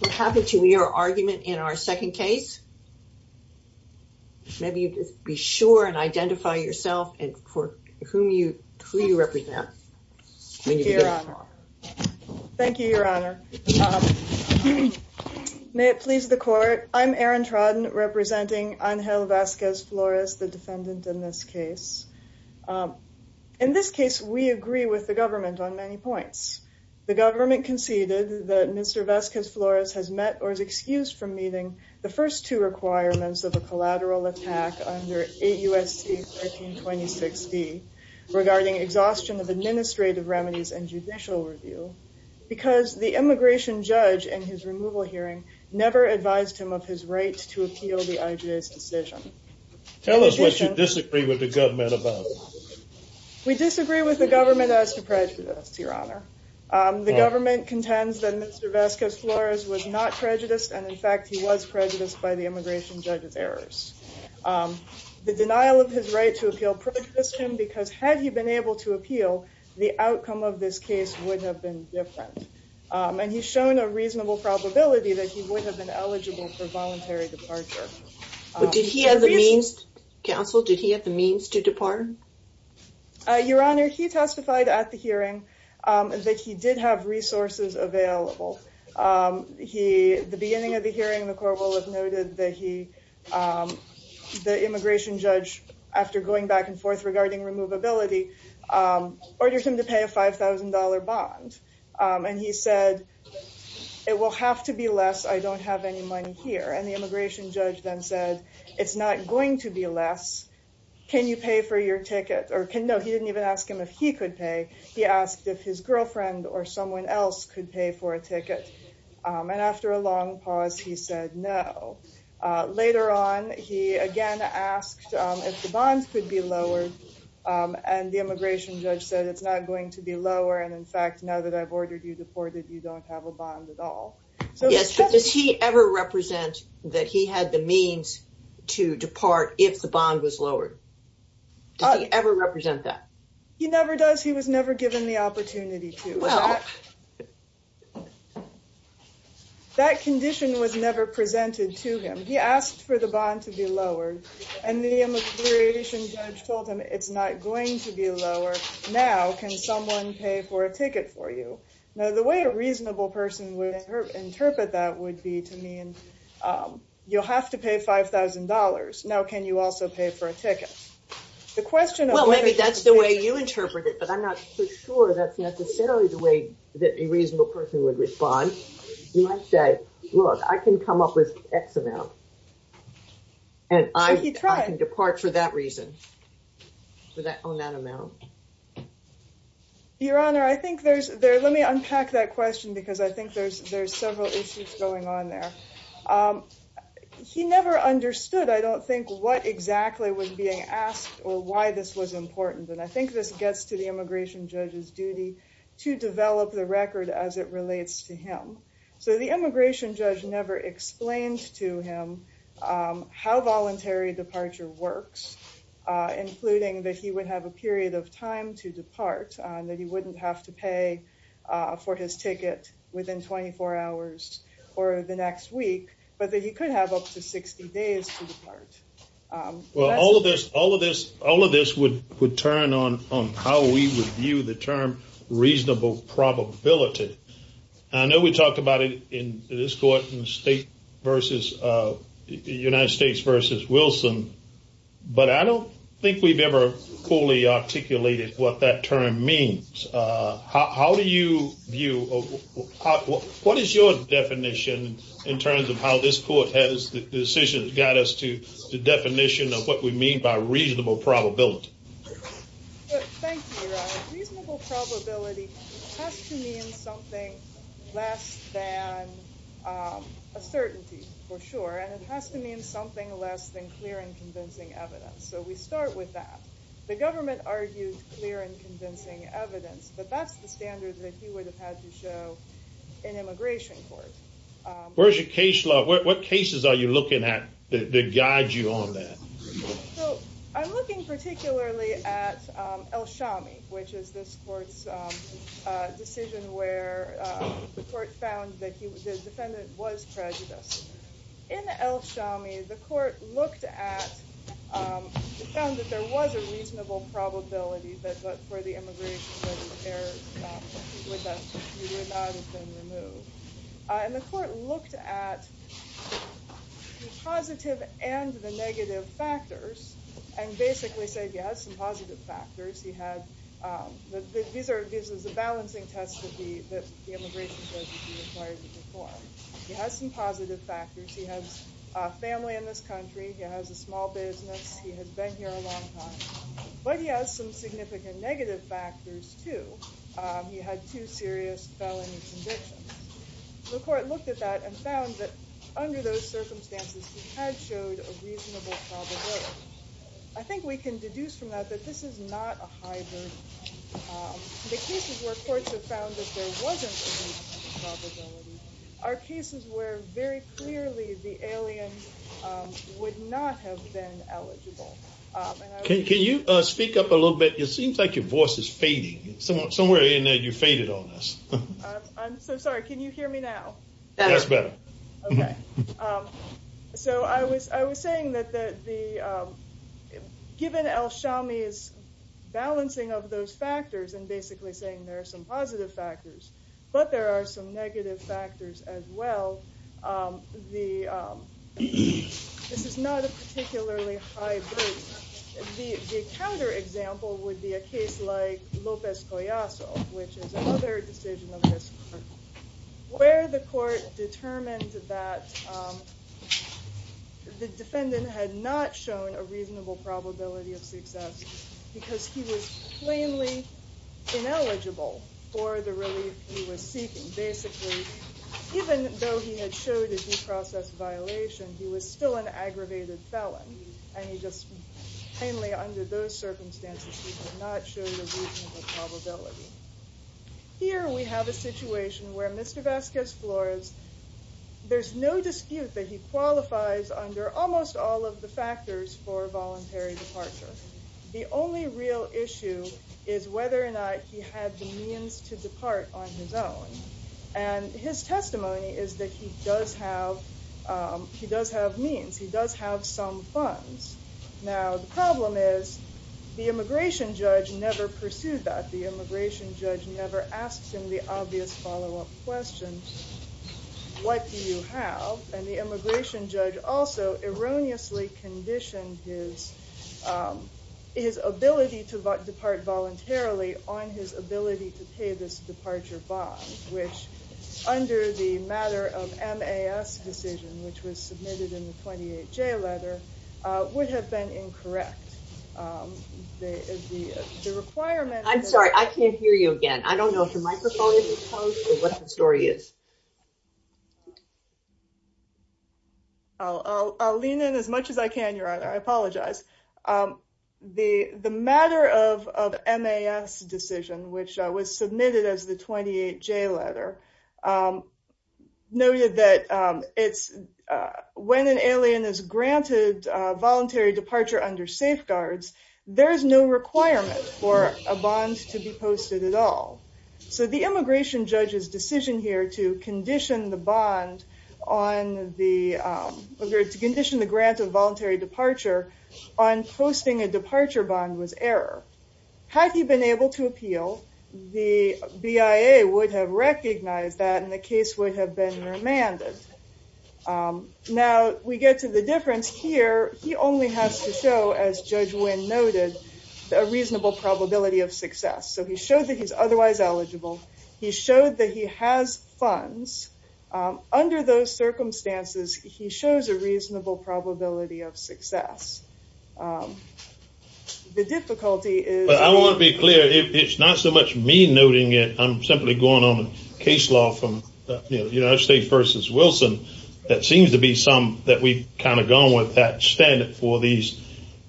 What happened to your argument in our second case? Maybe you just be sure and identify yourself and for whom you, who you represent. Thank you, your honor. May it please the court, I'm Erin Trodden representing Angel Vasquez Flores, the defendant in this case. In this case we agree with the government on many points. The government conceded that Mr. Vasquez Flores has met or is excused from meeting the first two requirements of a collateral attack under 8 U.S.C. 1326d regarding exhaustion of administrative remedies and judicial review because the immigration judge in his removal hearing never advised him of his right to appeal the IJ's decision. Tell us what you disagree with the government about. We disagree with the government as to prejudice, your honor. The government contends that Mr. Vasquez Flores was not prejudiced and in fact he was prejudiced by the immigration judge's errors. The denial of his right to appeal prejudiced him because had he been able to appeal, the outcome of this case would have been different and he's shown a reasonable probability that he would have been eligible for voluntary departure. But did he have the means, counsel, did he testify? Your honor, he testified at the hearing that he did have resources available. The beginning of the hearing the court will have noted that the immigration judge, after going back and forth regarding removability, ordered him to pay a $5,000 bond and he said it will have to be less. I don't have any money here and the immigration judge then said it's not going to be less. Can you pay for your ticket? No, he didn't even ask him if he could pay. He asked if his girlfriend or someone else could pay for a ticket and after a long pause he said no. Later on he again asked if the bonds could be lowered and the immigration judge said it's not going to be lower and in fact now that I've ordered you deported you don't have a bond at all. Yes, but does he ever represent that he had the means to depart if the bond was lowered? Does he ever represent that? He never does. He was never given the opportunity to. That condition was never presented to him. He asked for the bond to be lowered and the immigration judge told him it's not going to be lower. Now can someone pay for a ticket for you? Now the way a reasonable person would interpret that would be to mean you'll have to pay five thousand dollars. Now can you also pay for a ticket? Well maybe that's the way you interpret it but I'm not so sure that's necessarily the way that a reasonable person would respond. You might say look I can come up with x amount and I can depart for that reason. Your honor, I think there's there let me unpack that question because I think there's there's several issues going on there. He never understood I don't think what exactly was being asked or why this was important and I think this gets to the immigration judge's duty to develop the record as it relates to him. So the immigration judge never explained to him how voluntary departure works including that he would have a period of time to depart that he wouldn't have to pay for his ticket within 24 hours or the next week but that he could have up to 60 days to depart. Well all of this all of this all of this would would turn on on how we would view the term reasonable probability. I know we talked about it in this court in the state versus United States versus Wilson but I don't think we've ever fully articulated what that term means. How do you view what is your definition in terms of how this court has decisions got us to the definition of what we mean by reasonable probability? Thank you your honor. Reasonable probability has to mean something less than a certainty for sure and it has to mean something less than clear and convincing evidence. So we argued clear and convincing evidence but that's the standard that he would have had to show in immigration court. Where's your case law what cases are you looking at that guide you on that? So I'm looking particularly at El Shami which is this court's decision where the court found that he the defendant was prejudiced. In El Shami the court looked at it found that there was a reasonable probability that but for the immigration he would not have been removed. And the court looked at the positive and the negative factors and basically said he has some positive factors. He had these are this is a balancing test he has some positive factors. He has a family in this country. He has a small business. He has been here a long time but he has some significant negative factors too. He had two serious felony convictions. The court looked at that and found that under those circumstances he had showed a reasonable probability. I think we can deduce from that that this is not a high verdict. The cases where courts have found that there wasn't a probability are cases where very clearly the alien would not have been eligible. Can you speak up a little bit it seems like your voice is fading. Somewhere in there you faded on us. I'm so sorry can you hear me now? That's better. Okay so I was I was saying that the given El Shami's balancing of factors and basically saying there are some positive factors but there are some negative factors as well. This is not a particularly high verdict. The counter example would be a case like Lopez Collazo which is another decision of this where the court determined that the defendant had not shown a reasonable probability of success because he was plainly ineligible for the relief he was seeking. Basically even though he had showed a due process violation he was still an aggravated felon and he just plainly under those circumstances he did not show the reasonable probability. Here we have a situation where Mr. Vasquez-Flores there's no dispute that he qualifies under almost all of the factors for the only real issue is whether or not he had the means to depart on his own and his testimony is that he does have he does have means he does have some funds. Now the problem is the immigration judge never pursued that. The immigration judge never asks him the obvious follow-up question what do you have and the immigration judge also erroneously conditioned his his ability to depart voluntarily on his ability to pay this departure bond which under the matter of MAS decision which was submitted in the 28-J letter would have been incorrect. The requirement I'm sorry I can't hear you again I don't know if the microphone is closed or what the story is. I'll lean in as much as I can your honor I apologize. The matter of of MAS decision which was submitted as the 28-J letter noted that it's when an alien is granted voluntary departure under safeguards there is no requirement for a bond to be posted at all. So the immigration judge's decision here to condition the bond on the to condition the grant of voluntary departure on posting a departure bond was error. Had he been able to appeal the BIA would have recognized that and the case would have been remanded. Now we get to the difference here he only has to show as Judge Wynn noted a reasonable probability of success so he showed that he's otherwise eligible he showed that he has funds under those circumstances he shows a reasonable probability of success. The difficulty is. I want to be clear it's not so much me noting it I'm simply going on a case law from you know United States versus Wilson that seems to be some that we've kind of gone with that standard for these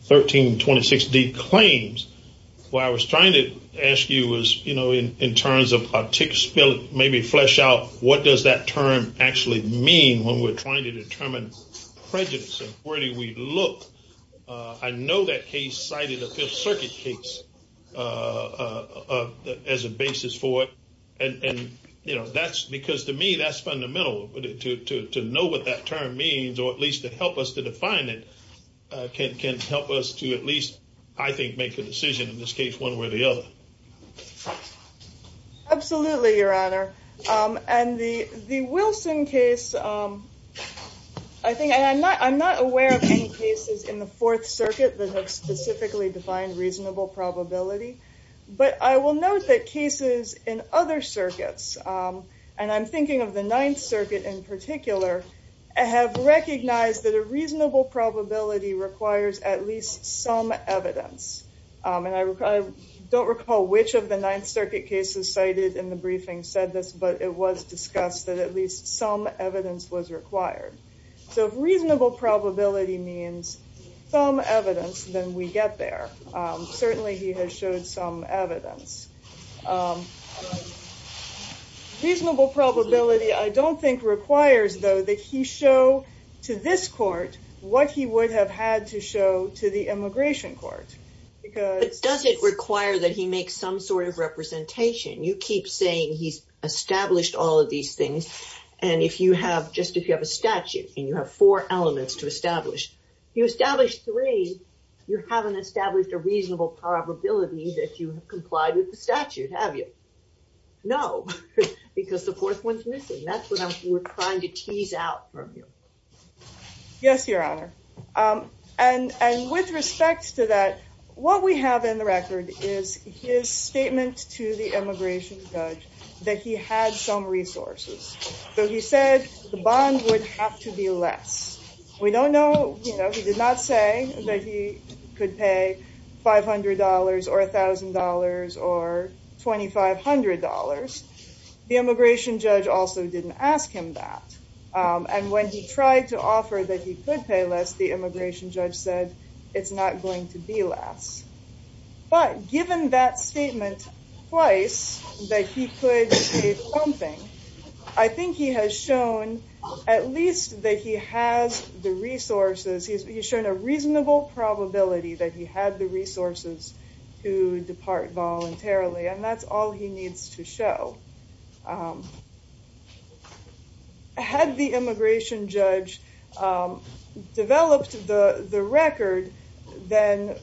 1326 D claims. What I was trying to ask you was you know in in terms of a tick spill maybe flesh out what does that term actually mean when we're trying to determine prejudice and where do we look. I know that case cited a Fifth Circuit case as a basis for it and and you know that's because to me that's fundamental to know what that term means or at least to help us to define it can help us to at least I think make a decision in this case one way or the other. Absolutely your honor and the the Wilson case I think and I'm not I'm not aware of any cases in the Fourth Circuit that have specifically defined reasonable probability but I will note that cases in other circuits and I'm thinking of the Ninth Circuit in particular have recognized that a reasonable probability requires at least some evidence and I don't recall which of the Ninth Circuit cases cited in the briefing said this but it was discussed that at least some evidence was required. So if reasonable probability means some evidence then we get there. Certainly he has showed some evidence. Reasonable probability I don't think requires though that he show to this court what he would have had to show to the immigration court. But does it require that he makes some sort of representation? You keep saying he's established all of these things and if you have just if you have a statute and you have four elements to establish you establish three you haven't established a reasonable probability that you have complied with the statute have you? No because the fourth one's missing that's what I'm we're trying to tease out from you. Yes your honor and and with respect to that what we have in the record is his statement to the immigration judge that he had some resources. So he said the bond would have to be less. We don't know you know he did not say that he could pay five hundred dollars or a thousand dollars or twenty five hundred dollars. The immigration judge also didn't ask him that and when he tried to offer that he could pay less the immigration judge said it's not going to be less. But given that statement twice that he could say something I think he has shown at least that he has the resources he's he's shown a reasonable probability that he had the resources to depart voluntarily and that's all he needs to show. Had the immigration judge developed the the record then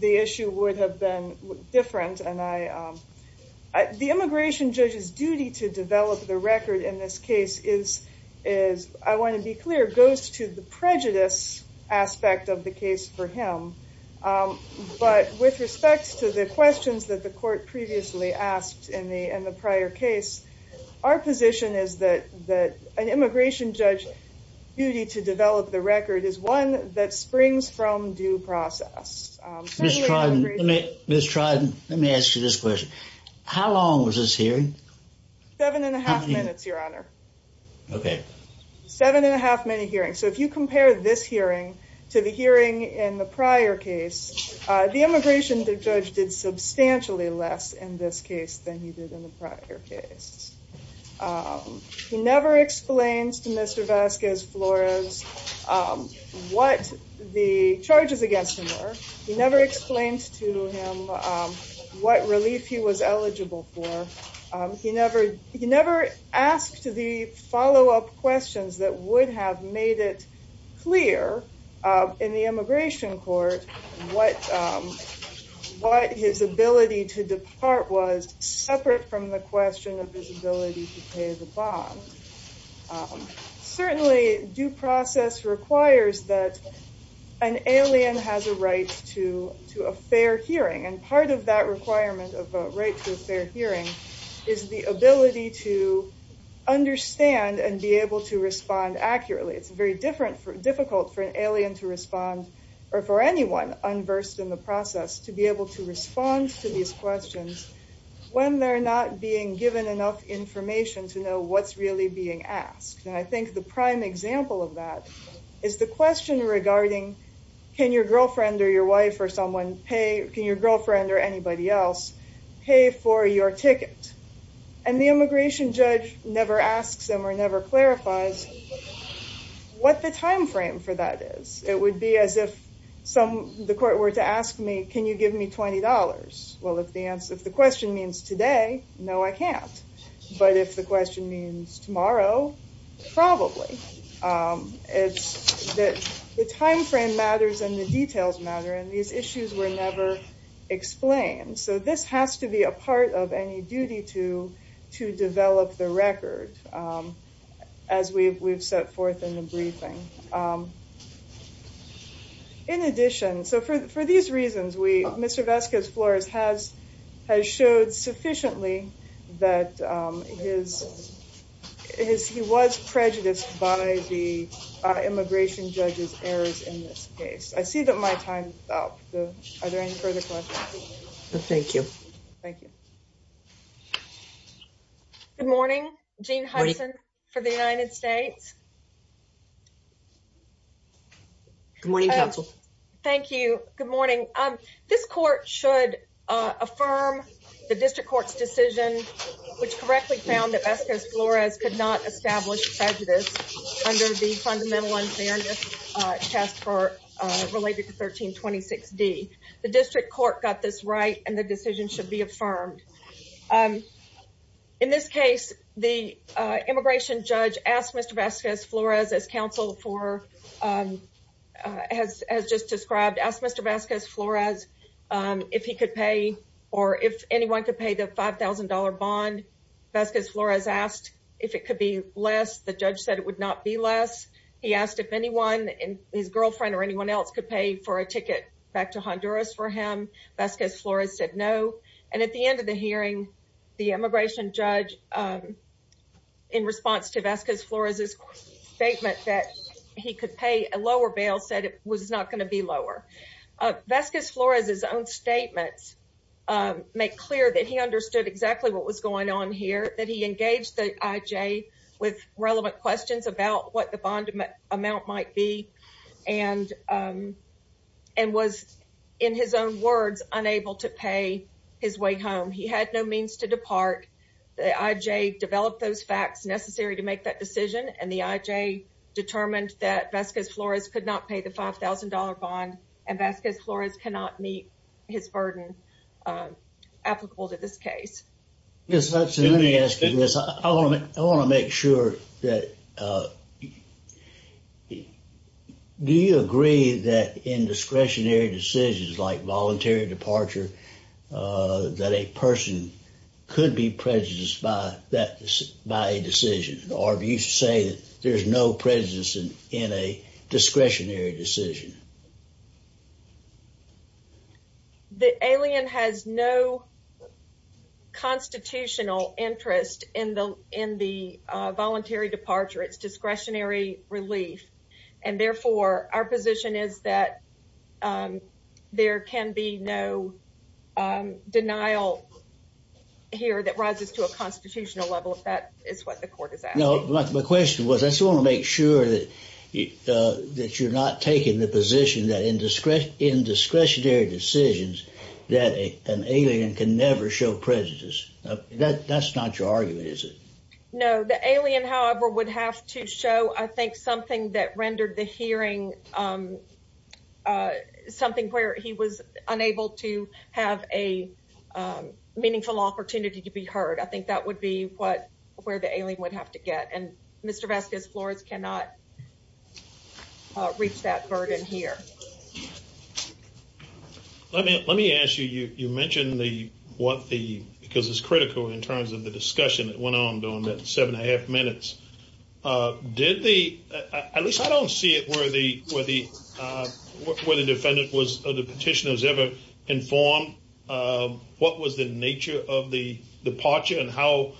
the issue would have been different and I the immigration judge's duty to develop the record in this case is I want to be clear goes to the prejudice aspect of the case for him. But with respect to the questions that the court previously asked in the in the prior case our position is that that an immigration judge duty to develop the record is one that springs from due process. Ms. Triden let me ask you this question. How long was this hearing? Seven and a half minutes your honor. Okay. Seven and a half minute hearing. So if you compare this hearing to the hearing in the prior case the immigration judge did substantially less in this case than he did in the prior case. He never explains to Mr. Vasquez Flores what the charges against him were. He never explained to him what relief he was eligible for. He never he never asked the follow-up questions that would have made it clear in the immigration court what what his ability to depart was separate from the question of his ability to pay the bond. Certainly due process requires that an alien has a right to to a fair hearing and part of that requirement of a right to a fair hearing is the ability to understand and be able to respond accurately. It's very different for difficult for an alien to respond or for anyone unversed in the process to be able to respond to these questions when they're not being given enough information to know what's really being asked. And I think the prime example of that is the question regarding can your girlfriend or your wife or someone pay can your girlfriend or anybody else pay for your ticket? And the immigration judge never asks them or never clarifies what the time frame for that is. It would be as if some the court were to ask me can you give me twenty dollars? Well if the answer if the question means today, no I can't. But if the question means tomorrow, probably. It's that the time frame matters and the details matter and these issues were never explained. So this has to be a part of any duty to to develop the record as we've set forth in the briefing. In addition, so for these reasons we Mr. Vesca's floors has showed sufficiently that he was prejudiced by the immigration judge's errors in this case. I see that my time is up. Are there any further questions? No thank you. Thank you. Good morning. Jean Hudson for the United States. Good morning counsel. Thank you. Good morning. This court should affirm the district court's decision which correctly found that Vesca's Flores could not establish prejudice under the fundamental unfairness test for related to 1326d. The district court got this right and the decision should be affirmed. In this case the immigration judge asked Mr. Vesca's Flores as counsel for as just described, asked Mr. Vesca's Flores if he could pay or if anyone could pay the $5,000 bond. Vesca's Flores asked if it could be less. The judge said it would not be less. He asked if anyone and his girlfriend or anyone else could pay for a ticket back to Honduras for him. Vesca's Flores said no and at the end of the hearing the immigration judge in response to a lower bail said it was not going to be lower. Vesca's Flores' own statements make clear that he understood exactly what was going on here. That he engaged the IJ with relevant questions about what the bond amount might be and and was in his own words unable to pay his way home. He had no means to depart. The IJ developed those facts necessary to make that decision and the IJ determined that Vesca's Flores could not pay the $5,000 bond and Vesca's Flores cannot meet his burden applicable to this case. Yes, let me ask you this. I want to make sure that do you agree that in discretionary decisions like voluntary departure that a person could be prejudiced by a decision or do you say that there's no prejudice in a discretionary decision? The alien has no constitutional interest in the voluntary departure. It's discretionary relief and therefore our position is that there can be no denial here that rises to a constitutional level if that is what the court is asking. No, my question was I just want to make sure that that you're not taking the position that in discretionary decisions that an alien can never show prejudice. That's not your argument is it? No, the alien however would have to show I think something that rendered the hearing something where he was meaningful opportunity to be heard. I think that would be what where the alien would have to get and Mr. Vesca's Flores cannot reach that burden here. Let me let me ask you you mentioned the what the because it's critical in terms of the discussion that went on during that seven and a half minutes. Did the at least I don't see it where the where the where the defendant was or the nature of the departure and how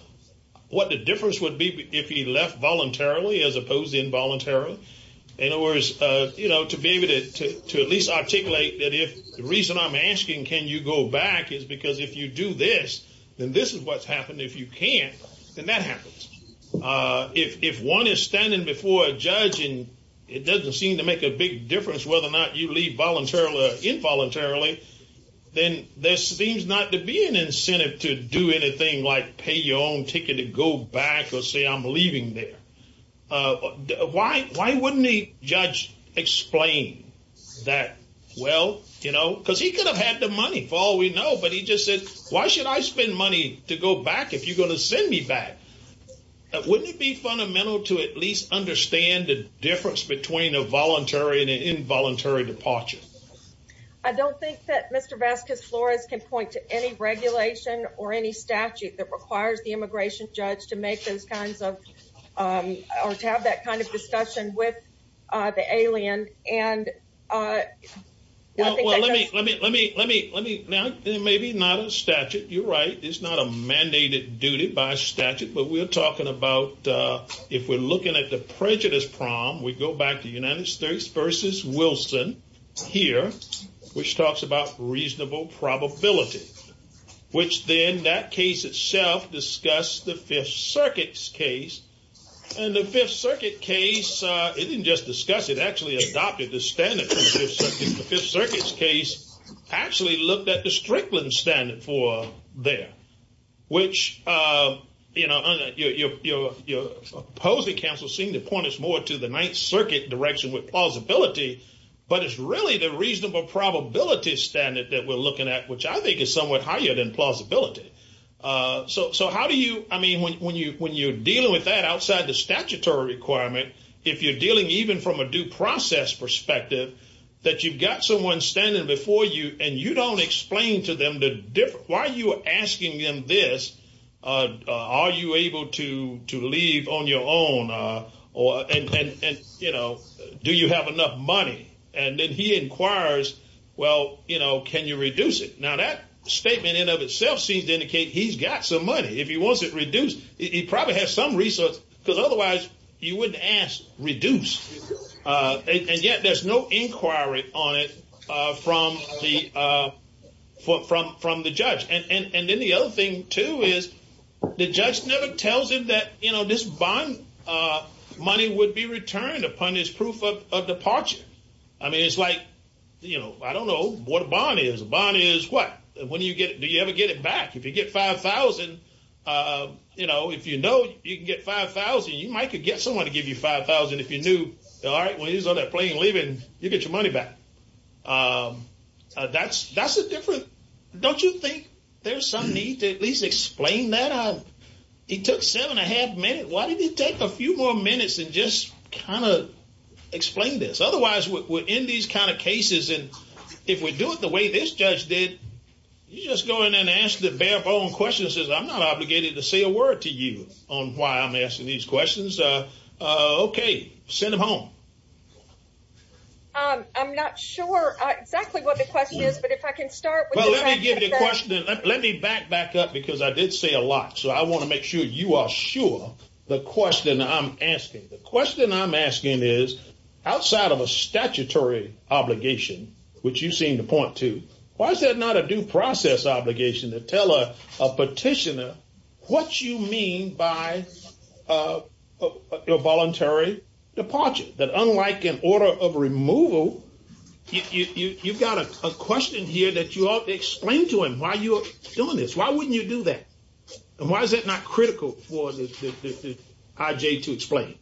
what the difference would be if he left voluntarily as opposed to involuntarily? In other words you know to be able to to at least articulate that if the reason I'm asking can you go back is because if you do this then this is what's happening if you can't then that happens. If one is standing before a judge and it doesn't seem to make a big difference whether or not you leave voluntarily or involuntarily then there seems not to be an incentive to do anything like pay your own ticket to go back or say I'm leaving there. Why wouldn't the judge explain that well you know because he could have had the money for all we know but he just said why should I spend money to go back if you're going to send me back? Wouldn't it be fundamental to at least understand the difference between a voluntary and an involuntary departure? I don't think that Mr. Vasquez-Flores can point to any regulation or any statute that requires the immigration judge to make those kinds of or to have that kind of discussion with the alien and let me let me let me let me now maybe not a statute you're right it's not a mandated duty by statute but we're talking about if we're looking at the prejudice prom we go back to United States versus Wilson here which talks about reasonable probability which then that case itself discussed the Fifth Circuit's case and the Fifth Circuit case it didn't just discuss it actually adopted the standard from the Fifth Circuit. The Fifth Circuit's case actually looked at the Strickland standard for there which you know your opposing counsel seem to point us more to the Ninth Circuit direction with plausibility but it's really the reasonable probability standard that we're looking at which I think is somewhat higher than plausibility. So how do you I mean when you when you're dealing with that outside the statutory requirement if you're dealing even from a due process perspective that you've got someone standing before you and you don't explain to them the different why you are asking them this are you able to to leave on your own or and and you know do you have enough money and then he inquires well you know can you reduce it now that statement in of itself seems to indicate he's got some money if he wants it reduced he probably has some resource because otherwise you wouldn't ask reduce and yet there's no inquiry on it from the from the judge and and then the other thing too is the judge never tells him that you know this bond money would be returned upon his proof of departure. I mean it's like you know I don't know what a bond is a bond is what when you get do you ever get it back if you get 5,000 you know if you know you can get 5,000 you might could get someone to give you 5,000 if you knew all right when he's on that plane you get your money back that's that's a different don't you think there's some need to at least explain that he took seven and a half minutes why did he take a few more minutes and just kind of explain this otherwise we're in these kind of cases and if we do it the way this judge did you just go in and ask the bare bone question says i'm not obligated to say a word to you on why i'm asking these questions uh uh okay send them home um i'm not sure uh exactly what the question is but if i can start well let me give you a question let me back back up because i did say a lot so i want to make sure you are sure the question i'm asking the question i'm asking is outside of a statutory obligation which you seem to point to why is that not a due process obligation to tell a a petitioner what you mean by uh a voluntary departure that unlike an order of removal you you've got a question here that you ought to explain to him why you're doing this why wouldn't you do that and why is it not critical for the ij to explain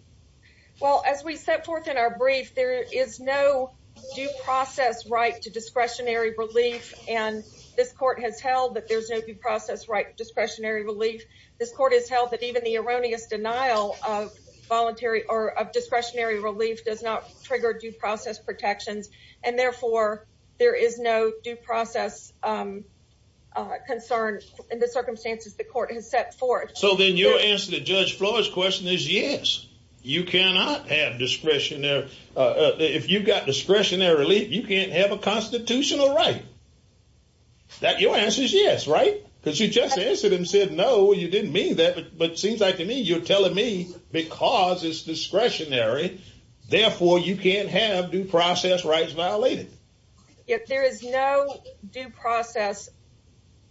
well as we set forth in our brief there is no due process right to discretionary relief and this court has held that there's no process right discretionary relief this court has held that even the erroneous denial of voluntary or of discretionary relief does not trigger due process protections and therefore there is no due process um concern in the circumstances the court has set forth so then your answer to judge floor's question is yes you cannot have discretion there uh if you've got discretionary relief you can't have a constitutional right that your answer is yes right because you just answered and said no you didn't mean that but seems like to me you're telling me because it's discretionary therefore you can't have due process rights violated yet there is no due process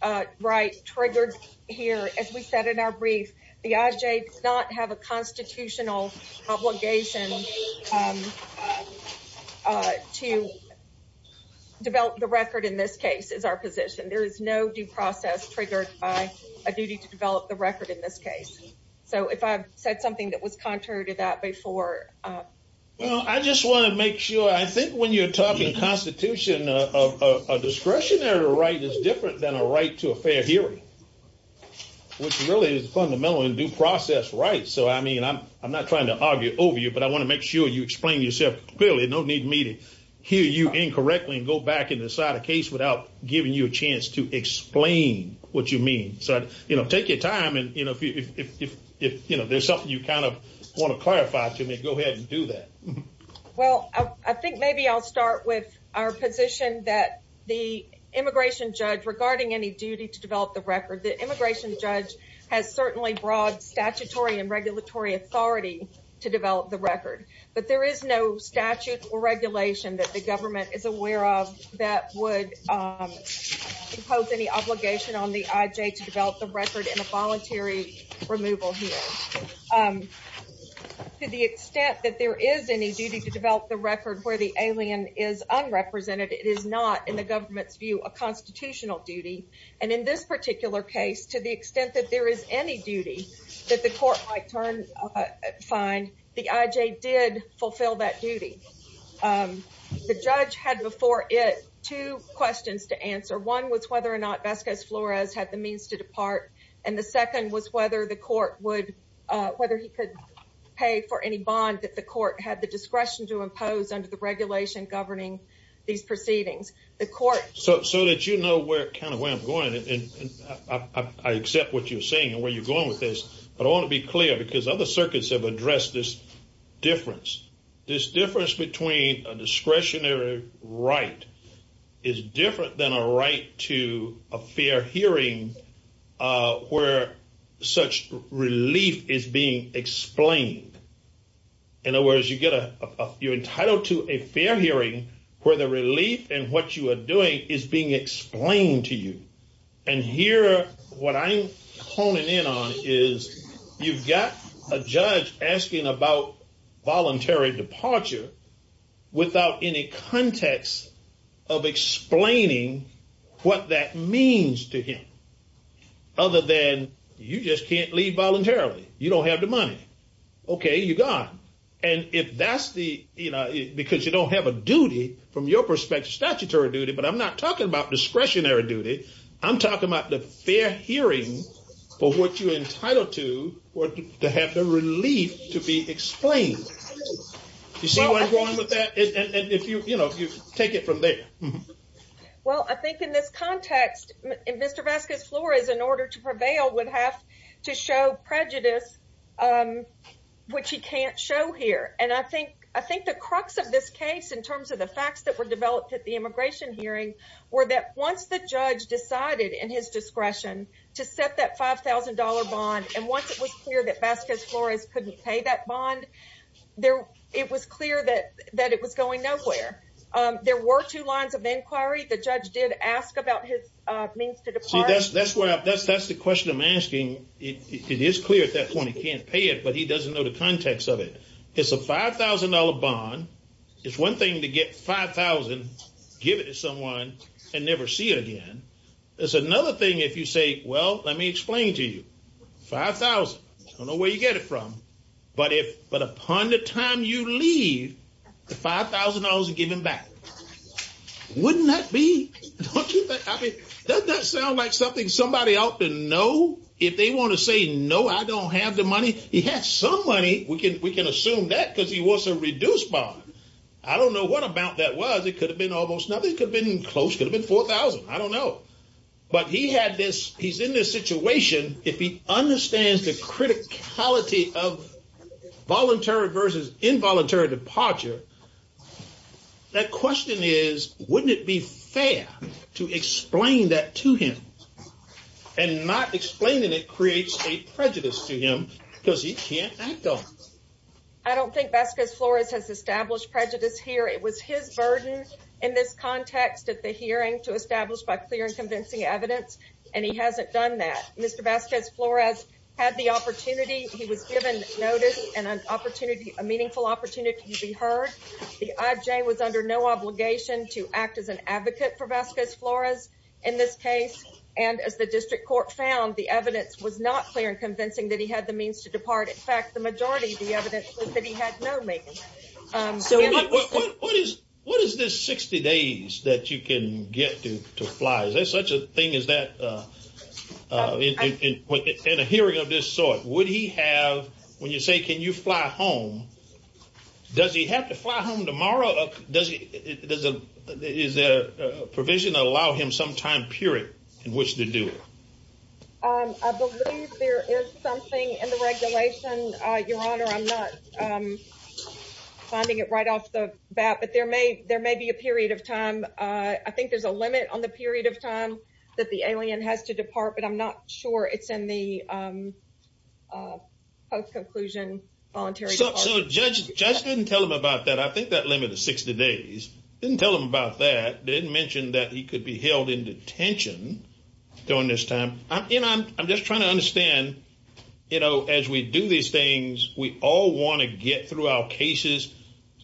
uh right triggered here as we said in our brief the ij does not have a constitutional obligation um uh to develop the record in this case is our position there is no due process triggered by a duty to develop the record in this case so if i've said something that was contrary to that before uh well i just want to make sure i think when you're talking constitution of a discretionary right is different than a right to a fair hearing which really is fundamentally due process right so i mean i'm not trying to argue over you but i want to make sure you explain yourself clearly no need me to hear you incorrectly and go back and decide a case without giving you a chance to explain what you mean so you know take your time and you know if if if you know there's something you kind of want to clarify to me go ahead and do that well i think maybe i'll start with our position that the immigration judge regarding any duty to develop the record the immigration judge has certainly broad statutory and authority to develop the record but there is no statute or regulation that the government is aware of that would um impose any obligation on the ij to develop the record in a voluntary removal here um to the extent that there is any duty to develop the record where the alien is unrepresented it is not in the government's view a constitutional duty and in this particular case to the extent that there is any duty that the court might turn uh find the ij did fulfill that duty um the judge had before it two questions to answer one was whether or not vesquez flores had the means to depart and the second was whether the court would uh whether he could pay for any bond that the court had the discretion to impose under the regulation governing these proceedings the court so so that you know where kind of where i'm going and i accept what you're saying and where you're going with this but i want to be clear because other circuits have addressed this difference this difference between a discretionary right is different than a right to a fair hearing uh where such relief is being explained in other words you get a you're entitled to a fair hearing where the relief and what you are doing is being explained to you and here what i'm honing in on is you've got a judge asking about voluntary departure without any context of explaining what that means to him other than you just can't leave voluntarily you don't have the money okay you got and if that's the you know because you don't have a duty from your perspective statutory duty but i'm not talking about discretionary duty i'm talking about the fair hearing for what you're entitled to or to have the relief to be explained you see where i'm going with that and if you you know if you take it from there well i think in this context and mr vaska's floor is in order to prevail would have to show prejudice um which he can't show here and i think i think the crux of this case in terms of the facts that were developed at the immigration hearing were that once the judge decided in his discretion to set that five thousand dollar bond and once it was clear that vasquez flores couldn't pay that bond there it was clear that that it was going nowhere um there were two lines of inquiry the judge did ask about his uh means to depart that's that's where that's that's the question i'm asking it is clear at that point he can't pay it but he doesn't know the context of it it's a five thousand dollar bond it's one thing to get five thousand give it to someone and never see it again it's another thing if you say well let me explain to you five thousand i don't know where you get it from but if but upon the time you leave the five thousand dollars are given back wouldn't that be don't you think i mean doesn't that sound like something somebody ought to know if they want to say no i don't have the because he wants a reduced bond i don't know what about that was it could have been almost nothing could have been close could have been four thousand i don't know but he had this he's in this situation if he understands the criticality of voluntary versus involuntary departure that question is wouldn't it be fair to explain that to him and not explaining it creates a prejudice to him because he can't go i don't think vasquez flores has established prejudice here it was his burden in this context at the hearing to establish by clear and convincing evidence and he hasn't done that mr vasquez flores had the opportunity he was given notice and an opportunity a meaningful opportunity to be heard the ij was under no obligation to act as an advocate for vasquez flores in this case and as the district court found the evidence was not clear and in fact the majority of the evidence was that he had no maintenance um so what is what is this 60 days that you can get to to fly is there such a thing as that uh uh in a hearing of this sort would he have when you say can you fly home does he have to fly home tomorrow does he does it is there a provision that allow him some time period in which to do it um i believe there is something in the regulation uh your honor i'm not um finding it right off the bat but there may there may be a period of time uh i think there's a limit on the period of time that the alien has to depart but i'm not sure it's in the um uh post-conclusion voluntary so judge judge didn't tell him about that i think that limit of 60 days didn't tell him about that didn't mention that he could be held in detention during this time i'm you know i'm just trying to understand you know as we do these things we all want to get through our cases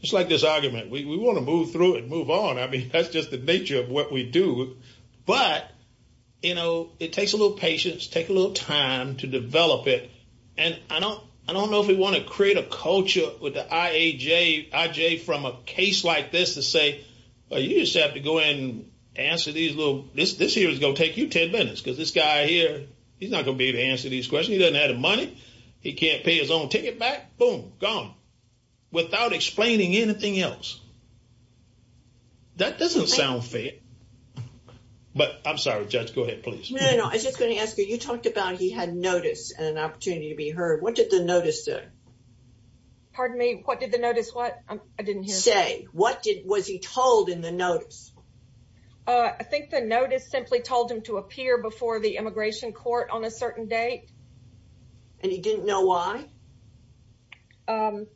just like this argument we want to move through it move on i mean that's just the nature of what we do but you know it takes a little patience take a little time to develop it and i don't i don't know if we want to create a culture with the iaj ij from a case like this to say you just have to go in and answer these little this this here is going to take you 10 minutes because this guy here he's not going to be able to answer these questions he doesn't have the money he can't pay his own ticket back boom gone without explaining anything else that doesn't sound fair but i'm sorry judge go ahead please no no i was just going to ask you you talked about he had notice and an opportunity to be heard what did the notice what i didn't say what did was he told in the notice uh i think the notice simply told him to appear before the immigration court on a certain date and he didn't know why um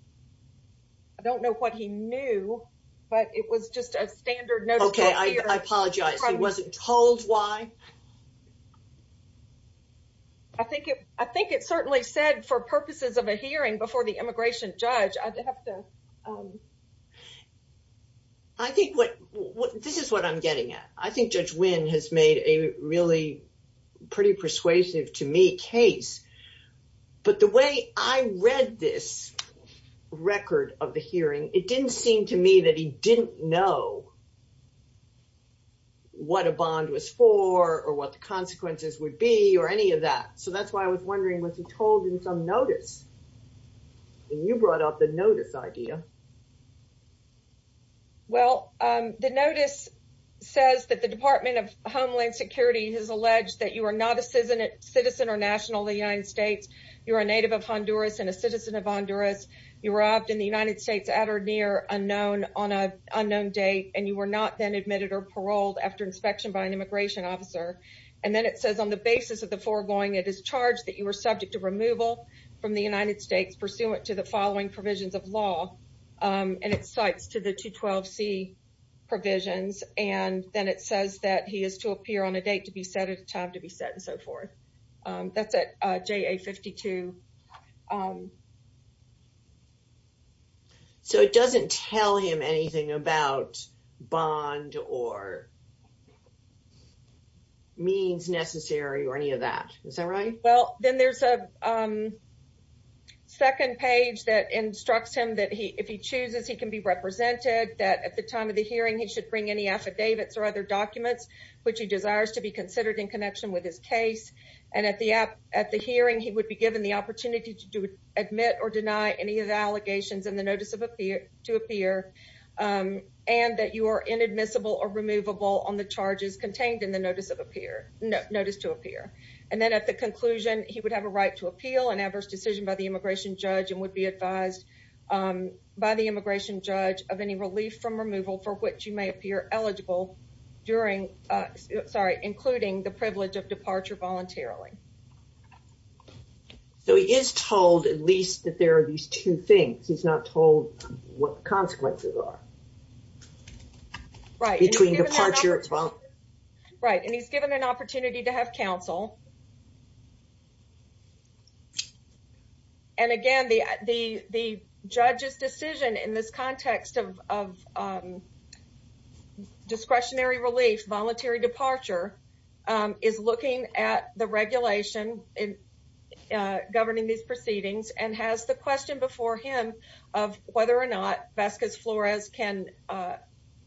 i don't know what he knew but it was just a standard notice okay i apologize he wasn't told why i think it i think it certainly said for purposes of a hearing before the um i think what what this is what i'm getting at i think judge win has made a really pretty persuasive to me case but the way i read this record of the hearing it didn't seem to me that he didn't know what a bond was for or what the consequences would be or any of that so that's why i was wondering was he told in some notice and you brought up the notice idea well um the notice says that the department of homeland security has alleged that you are not a citizen citizen or national of the united states you're a native of honduras and a citizen of honduras you were robbed in the united states at or near unknown on a unknown date and you were not then admitted or paroled after inspection by an immigration officer and then it says on the basis of the foregoing it is charged that you were subject to removal from the united states pursuant to the following provisions of law um and it cites to the 212c provisions and then it says that he is to appear on a date to be set at a time to be set and so forth um that's at ja 52 so it doesn't tell him anything about bond or what means necessary or any of that is that right well then there's a um second page that instructs him that he if he chooses he can be represented that at the time of the hearing he should bring any affidavits or other documents which he desires to be considered in connection with his case and at the app at the hearing he would be given the opportunity to do admit or deny any of the allegations in the notice of appear to appear um and that you are inadmissible or removable on the charges contained in the notice of appear notice to appear and then at the conclusion he would have a right to appeal an adverse decision by the immigration judge and would be advised um by the immigration judge of any relief from removal for which you may appear eligible during uh sorry including the privilege of departure voluntarily so he is told at least that there are these two things he's not told what consequences are right between departure as well right and he's given an opportunity to have counsel and again the the the judge's decision in this context of of um discretionary relief voluntary departure um is looking at the regulation in uh governing these proceedings and has the or not Vasquez Flores can uh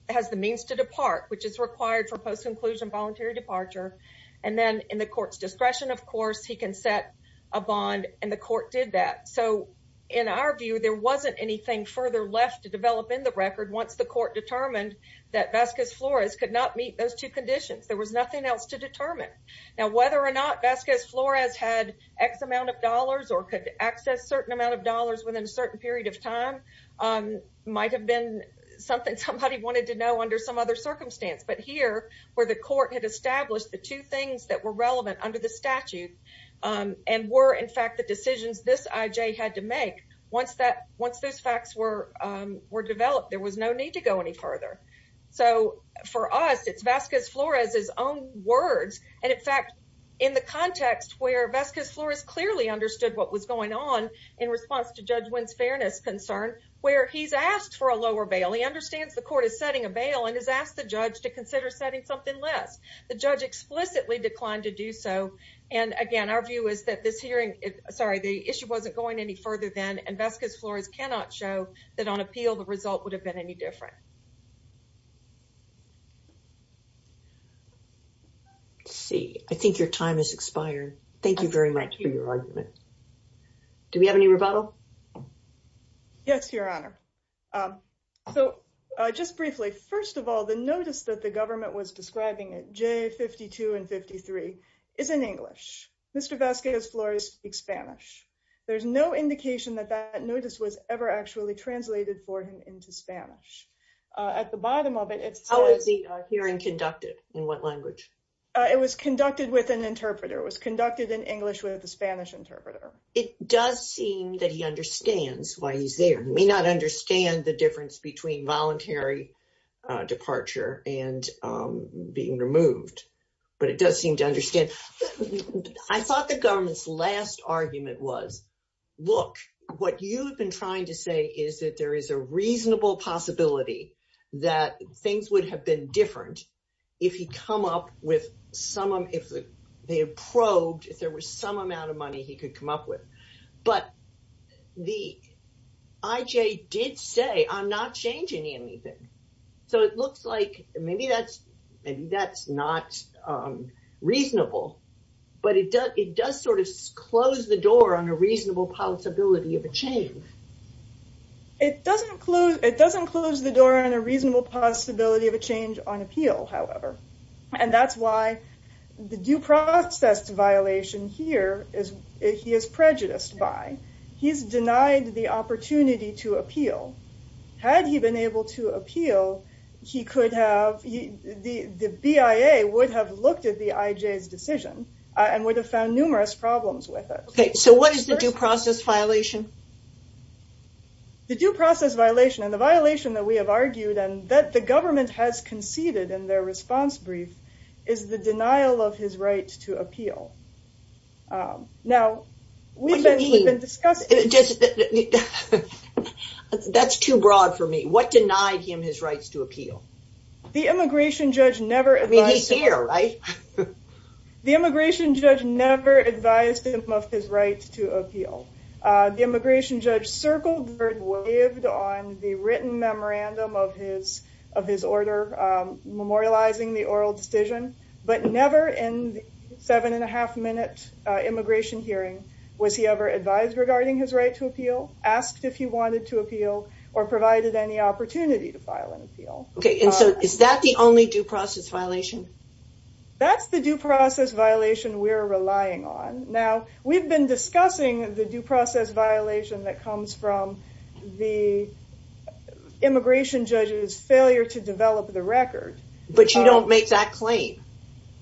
has the means to depart which is required for post-conclusion voluntary departure and then in the court's discretion of course he can set a bond and the court did that so in our view there wasn't anything further left to develop in the record once the court determined that Vasquez Flores could not meet those two conditions there was nothing else to determine now whether or not Vasquez Flores had x amount of dollars or could access certain amount of dollars within a might have been something somebody wanted to know under some other circumstance but here where the court had established the two things that were relevant under the statute um and were in fact the decisions this IJ had to make once that once those facts were um were developed there was no need to go any further so for us it's Vasquez Flores's own words and in fact in the context where Vasquez Flores clearly understood what was going on in response to Judge Wynn's fairness concern where he's asked for a lower bail he understands the court is setting a bail and has asked the judge to consider setting something less the judge explicitly declined to do so and again our view is that this hearing sorry the issue wasn't going any further than and Vasquez Flores cannot show that on appeal the result would have been any different see I think your time has expired thank you very much for your argument do we have any rebuttal yes your honor um so just briefly first of all the notice that the government was describing it j52 and 53 is in english mr Vasquez Flores speak spanish there's no indication that that notice was ever actually translated for him into spanish at the bottom of it it's how is the hearing conducted in what language it was conducted with an interpreter was it does seem that he understands why he's there he may not understand the difference between voluntary departure and being removed but it does seem to understand I thought the government's last argument was look what you've been trying to say is that there is a reasonable possibility that things would have been different if he come up with some if they have probed if there was some amount of money he could come up with but the ij did say i'm not changing anything so it looks like maybe that's maybe that's not um reasonable but it does it does sort of close the door on a reasonable possibility of a change it doesn't close it doesn't close the door on a reasonable possibility of a change on appeal however and that's why the due process violation here is he is prejudiced by he's denied the opportunity to appeal had he been able to appeal he could have he the the bia would have looked at the ij's decision and would have found numerous problems with it okay so what is the due process violation the due process violation and the violation that we have argued and that the government has conceded in their response brief is the denial of his right to appeal now we've been we've been discussing just that's too broad for me what denied him his rights to appeal the immigration judge never i mean he's here right the immigration judge never advised him of his right to appeal uh the immigration judge circled on the written memorandum of his of his order um memorializing the oral decision but never in the seven and a half minute uh immigration hearing was he ever advised regarding his right to appeal asked if he wanted to appeal or provided any opportunity to file an appeal okay and so is that the only due process violation that's the due process violation we're relying on now we've been discussing the due process violation that comes from the immigration judge's failure to develop the record but you don't make that claim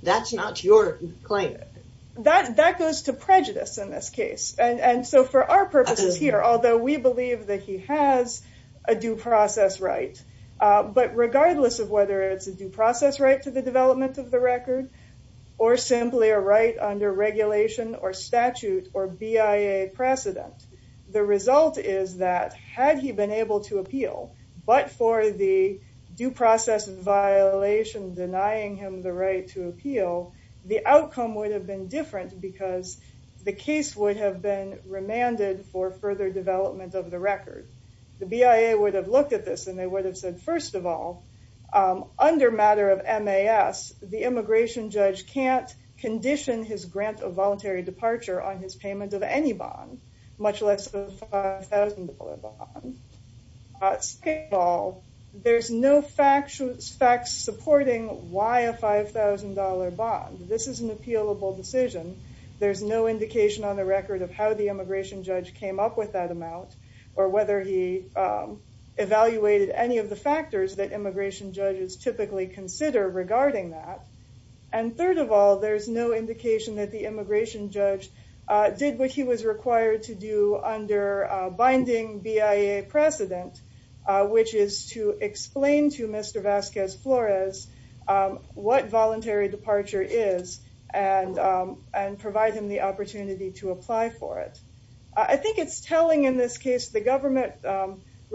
that's not your claim that that goes to prejudice in this case and and so for our purposes here although we believe that he has a due process right uh but regardless of whether it's a due process right to the development of the record or simply a right under regulation or statute or bia precedent the result is that had he been able to appeal but for the due process violation denying him the right to appeal the outcome would have been different because the case would have been remanded for further development of the record the bia would have looked at this and they would have said first of all um under matter of mas the immigration judge can't condition his grant of voluntary departure on his payment of any bond much less of a $5,000 bond at all there's no factual facts supporting why a $5,000 bond this is an appealable decision there's no indication on the record of how the immigration judge came up with that amount or whether he evaluated any of the factors that immigration judges typically consider regarding that and third of all there's no indication that the immigration judge did what he was required to do under binding bia precedent which is to explain to Mr. Vasquez Flores what voluntary departure is and and provide him the opportunity to apply for it i think it's telling in this case the government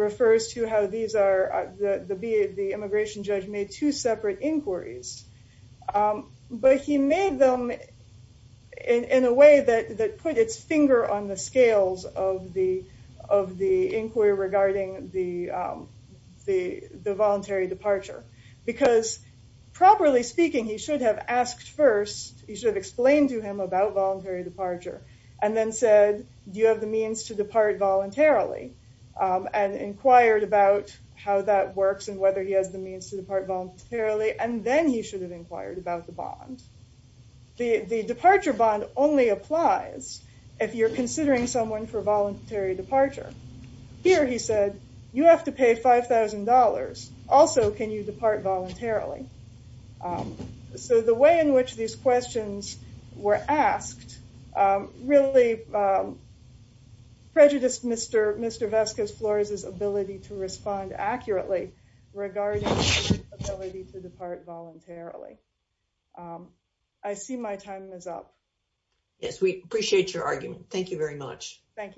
refers to how these are the b the inquiries but he made them in in a way that that put its finger on the scales of the of the inquiry regarding the the the voluntary departure because properly speaking he should have asked first he should have explained to him about voluntary departure and then said do you have the means to depart voluntarily and inquired about how that works and whether he has the means to depart voluntarily and then he should have inquired about the bond the the departure bond only applies if you're considering someone for voluntary departure here he said you have to pay $5,000 also can you depart voluntarily so the way in which these questions were asked really prejudiced Mr. Mr. Vasquez Flores's ability to respond accurately regarding the ability to depart voluntarily i see my time is up yes we appreciate your argument thank you very much thank you